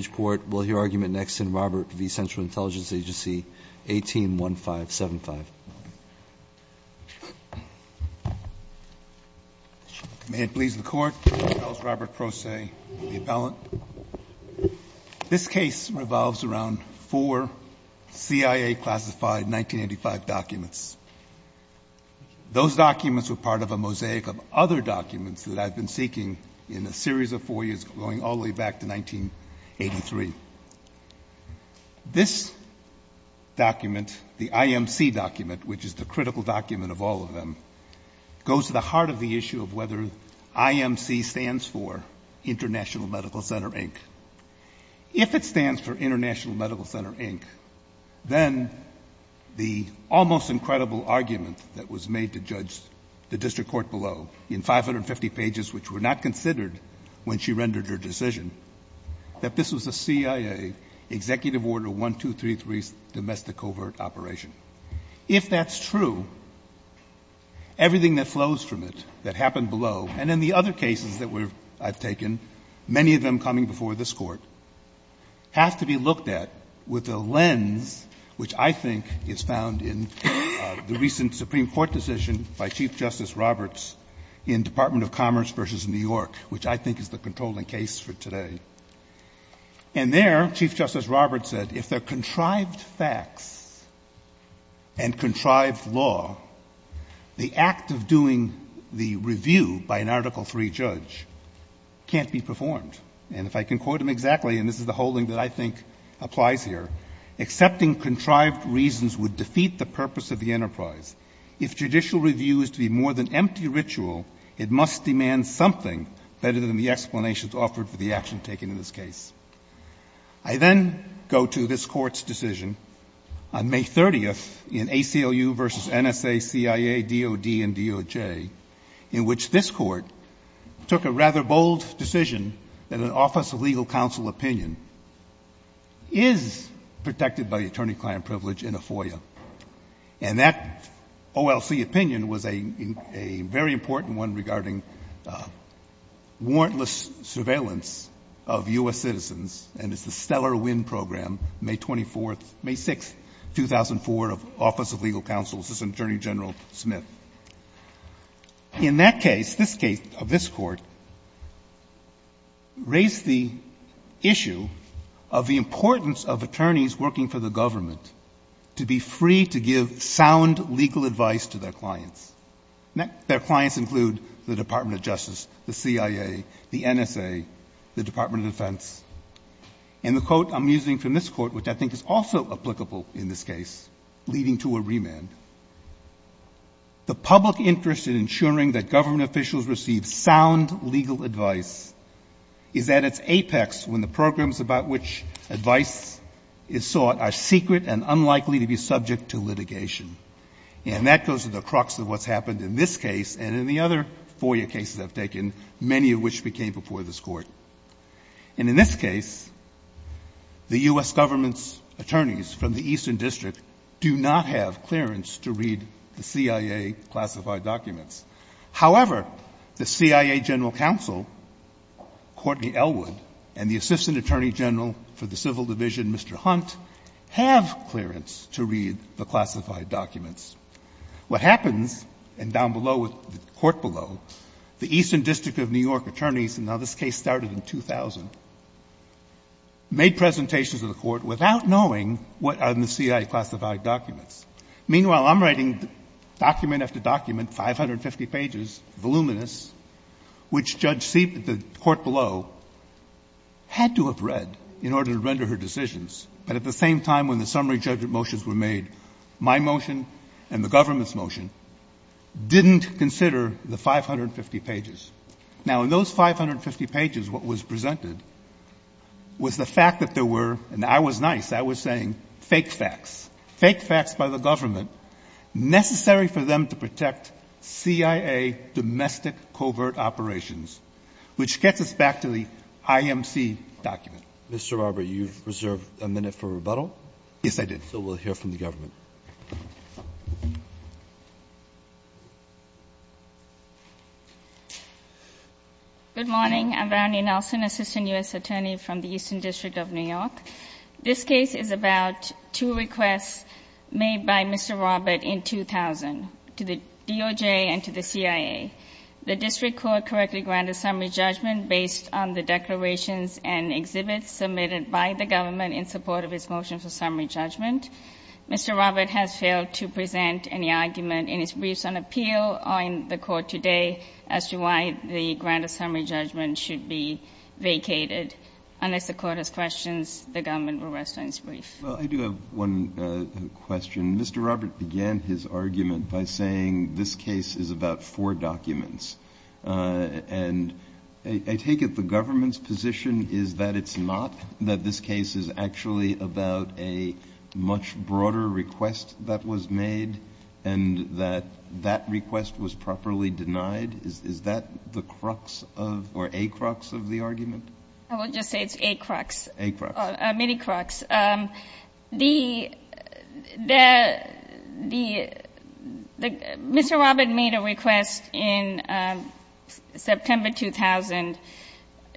agency, 181575. May it please the Court, I'll call Robert Proce, the appellant. This case revolves around four CIA-classified 1985 documents. Those documents were part of a mosaic of other documents that I've been seeking in a series of four years, going all the way back to 1983. This document, the IMC document, which is the critical document of all of them, goes to the heart of the issue of whether IMC stands for International Medical Center, Inc. If it stands for International Medical Center, Inc., then the almost incredible argument that was made to judge the district court below, in 550 pages, which were not considered when she rendered her decision, that this was a CIA Executive Order 1233 domestic covert operation. If that's true, everything that flows from it, that happened below, and in the other cases that I've taken, many of them coming before this Court, have to be looked at with a lens which I think is found in the recent Supreme Court decision by Chief Justice Roberts, the Department of Commerce v. New York, which I think is the controlling case for today. And there, Chief Justice Roberts said, if there are contrived facts and contrived law, the act of doing the review by an Article III judge can't be performed. And if I can quote him exactly, and this is the whole thing that I think applies here, accepting contrived reasons would defeat the purpose of the enterprise. If judicial review is to be more than empty ritual, it must demand something better than the explanations offered for the action taken in this case. I then go to this Court's decision on May 30th in ACLU v. NSA, CIA, DOD, and DOJ, in which this Court took a rather bold decision that an Office of Legal Counsel opinion is protected by attorney-client privilege in a FOIA. And that OLC opinion was a very important one regarding warrantless surveillance of U.S. citizens, and it's the Stellar Wind Program, May 24th, May 6th, 2004, of Office of Legal Counsel, Assistant Attorney General Smith. In that case, this case of this Court raised the issue of the importance of attorneys working for the government to be free to give sound legal advice to their clients. Their clients include the Department of Justice, the CIA, the NSA, the Department of Defense, and the quote I'm using from this Court, which I think is also applicable in this case, leading to a remand, the public interest in ensuring that government officials receive sound legal advice is at its apex when the programs about which advice is sought are secret and unlikely to be subject to litigation. And that goes to the crux of what's happened in this case and in the other FOIA cases I've taken, many of which became before this Court. And in this case, the U.S. government's attorneys from the Eastern District do not have clearance to read the CIA-classified documents. However, the CIA General Counsel, Courtney Elwood, and the Assistant Attorney General for the Civil Division, Mr. Hunt, have clearance to read the classified documents. What happens, and down below, with the Court below, the Eastern District of New York attorneys, and now this case started in 2000, made presentations to the Court without knowing what are in the CIA-classified documents. Meanwhile, I'm writing document after document, 550 pages, voluminous, which Judge Elwood, in order to render her decisions, but at the same time when the summary judgment motions were made, my motion and the government's motion, didn't consider the 550 pages. Now, in those 550 pages, what was presented was the fact that there were, and I was nice, I was saying, fake facts, fake facts by the government necessary for them to protect CIA domestic covert operations, which gets us back to the IMC document. Mr. Robert, you've reserved a minute for rebuttal. Yes, I did. So we'll hear from the government. Good morning. I'm Brownie Nelson, Assistant U.S. Attorney from the Eastern District of New York. This case is about two requests made by Mr. Robert in 2000 to the DOJ and to the CIA. The district court correctly granted summary judgment based on the declarations and exhibits submitted by the government in support of his motion for summary judgment. Mr. Robert has failed to present any argument in his briefs on appeal on the court today as to why the grant of summary judgment should be vacated. Unless the court has questions, the government will rest on its brief. Well, I do have one question. Mr. Robert began his argument by saying this case is about four documents. And I take it the government's position is that it's not, that this case is actually about a much broader request that was made and that that request was properly denied? Is that the crux of, or a crux of the argument? I will just say it's a crux. A crux. A mini crux. The, the, the, the, Mr. Robert made a request in September 2000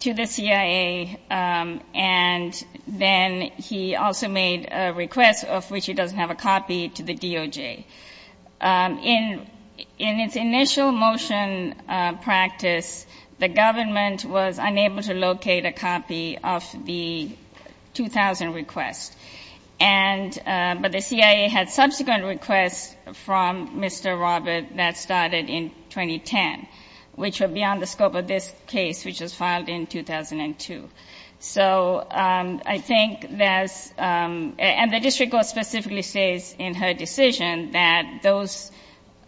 to the CIA. And then he also made a request of which he doesn't have a copy to the DOJ. In, in its initial motion practice, the government was unable to locate a copy of the request. And, but the CIA had subsequent requests from Mr. Robert that started in 2010, which were beyond the scope of this case, which was filed in 2002. So I think that's, and the district court specifically says in her decision that those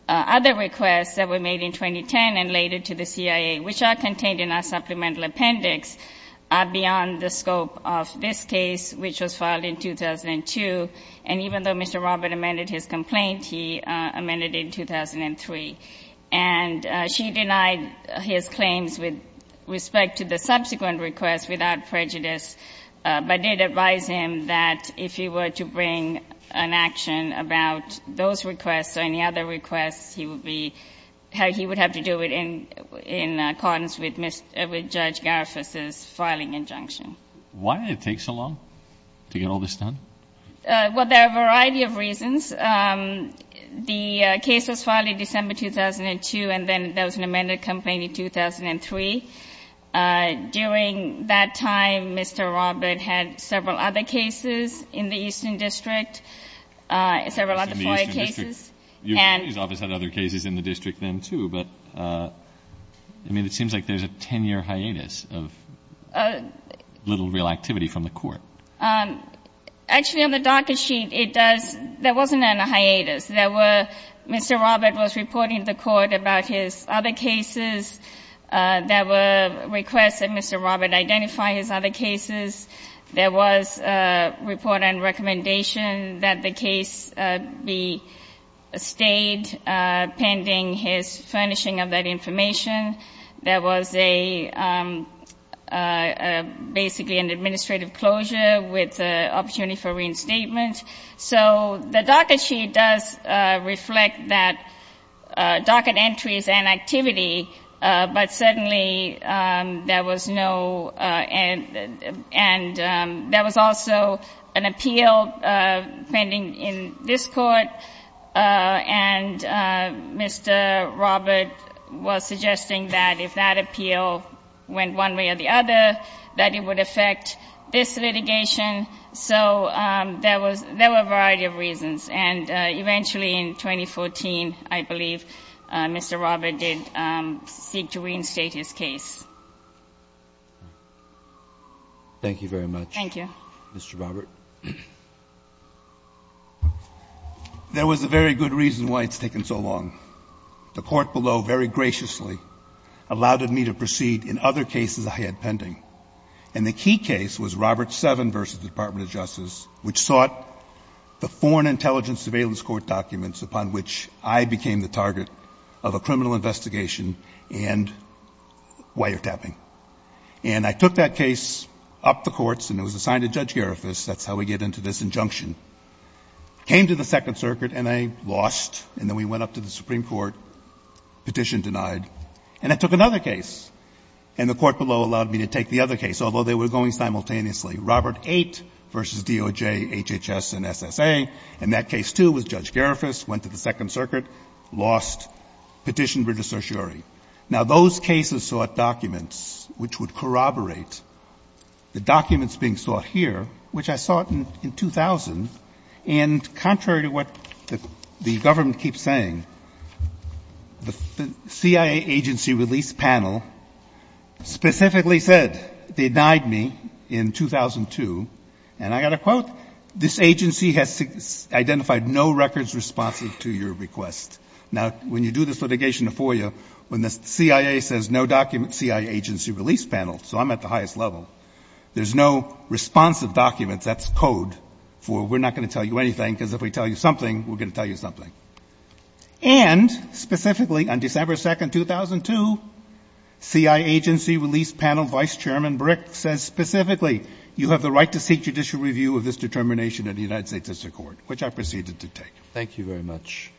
other requests that were made in 2010 and later to the CIA, which are contained in our supplemental appendix, are beyond the scope of this case, which was filed in 2002. And even though Mr. Robert amended his complaint, he amended it in 2003. And she denied his claims with respect to the subsequent request without prejudice, but did advise him that if he were to bring an action about those requests or any other requests, he would be, he would have to do it in, in accordance with Mr., with Judge Garifuss's filing injunction. Why did it take so long to get all this done? Well, there are a variety of reasons. The case was filed in December 2002 and then there was an amended complaint in 2003. During that time, Mr. Robert had several other cases in the Eastern District, several other FOIA cases. And Your attorney's office had other cases in the district then, too. But, I mean, it seems like there's a 10-year hiatus of little real activity from the court. Actually, on the docket sheet, it does, there wasn't any hiatus. There were, Mr. Robert was reporting to the court about his other cases. There were requests that Mr. Robert identify his other cases. There was a report and recommendation that the case be stayed pending his furnishing of that information. There was a, basically an administrative closure with the opportunity for reinstatement. So the docket sheet does reflect that docket entries and activity, but certainly there was no, and there was also an appeal pending in this court, and Mr. Robert was suggesting that if that appeal went one way or the other, that it would affect this litigation. So there was, there were a variety of reasons. And eventually in 2014, I believe, Mr. Robert did seek to reinstate his case. Thank you very much. Thank you. Mr. Robert. There was a very good reason why it's taken so long. The court below very graciously allowed me to proceed in other cases I had pending. And the key case was Robert 7 v. Department of Justice, which sought the Foreign Intelligence Surveillance Court documents upon which I became the target of a criminal investigation and wiretapping. And I took that case up the courts, and it was assigned to Judge Garifas. That's how we get into this injunction. Came to the Second Circuit, and I lost. And then we went up to the Supreme Court, petition denied. And I took another case, and the court below allowed me to take the other case, although they were going simultaneously. Robert 8 v. DOJ, HHS, and SSA. And that case, too, was Judge Garifas. Went to the Second Circuit. Lost. Petitioned British certiorari. Now, those cases sought documents which would corroborate the documents being sought here, which I sought in 2000. And contrary to what the government keeps saying, the CIA agency release panel specifically said, denied me in 2002, and I got a quote, this agency has identified no records responsive to your request. Now, when you do this litigation in FOIA, when the CIA says no documents, CIA agency release panel, so I'm at the highest level. There's no responsive documents. That's code for we're not going to tell you anything, because if we tell you something, we're going to tell you something. And specifically, on December 2, 2002, CIA agency release panel Vice Chairman Brick says specifically, you have the right to seek judicial review of this determination of the United States District Court, which I proceeded to take. Thank you very much.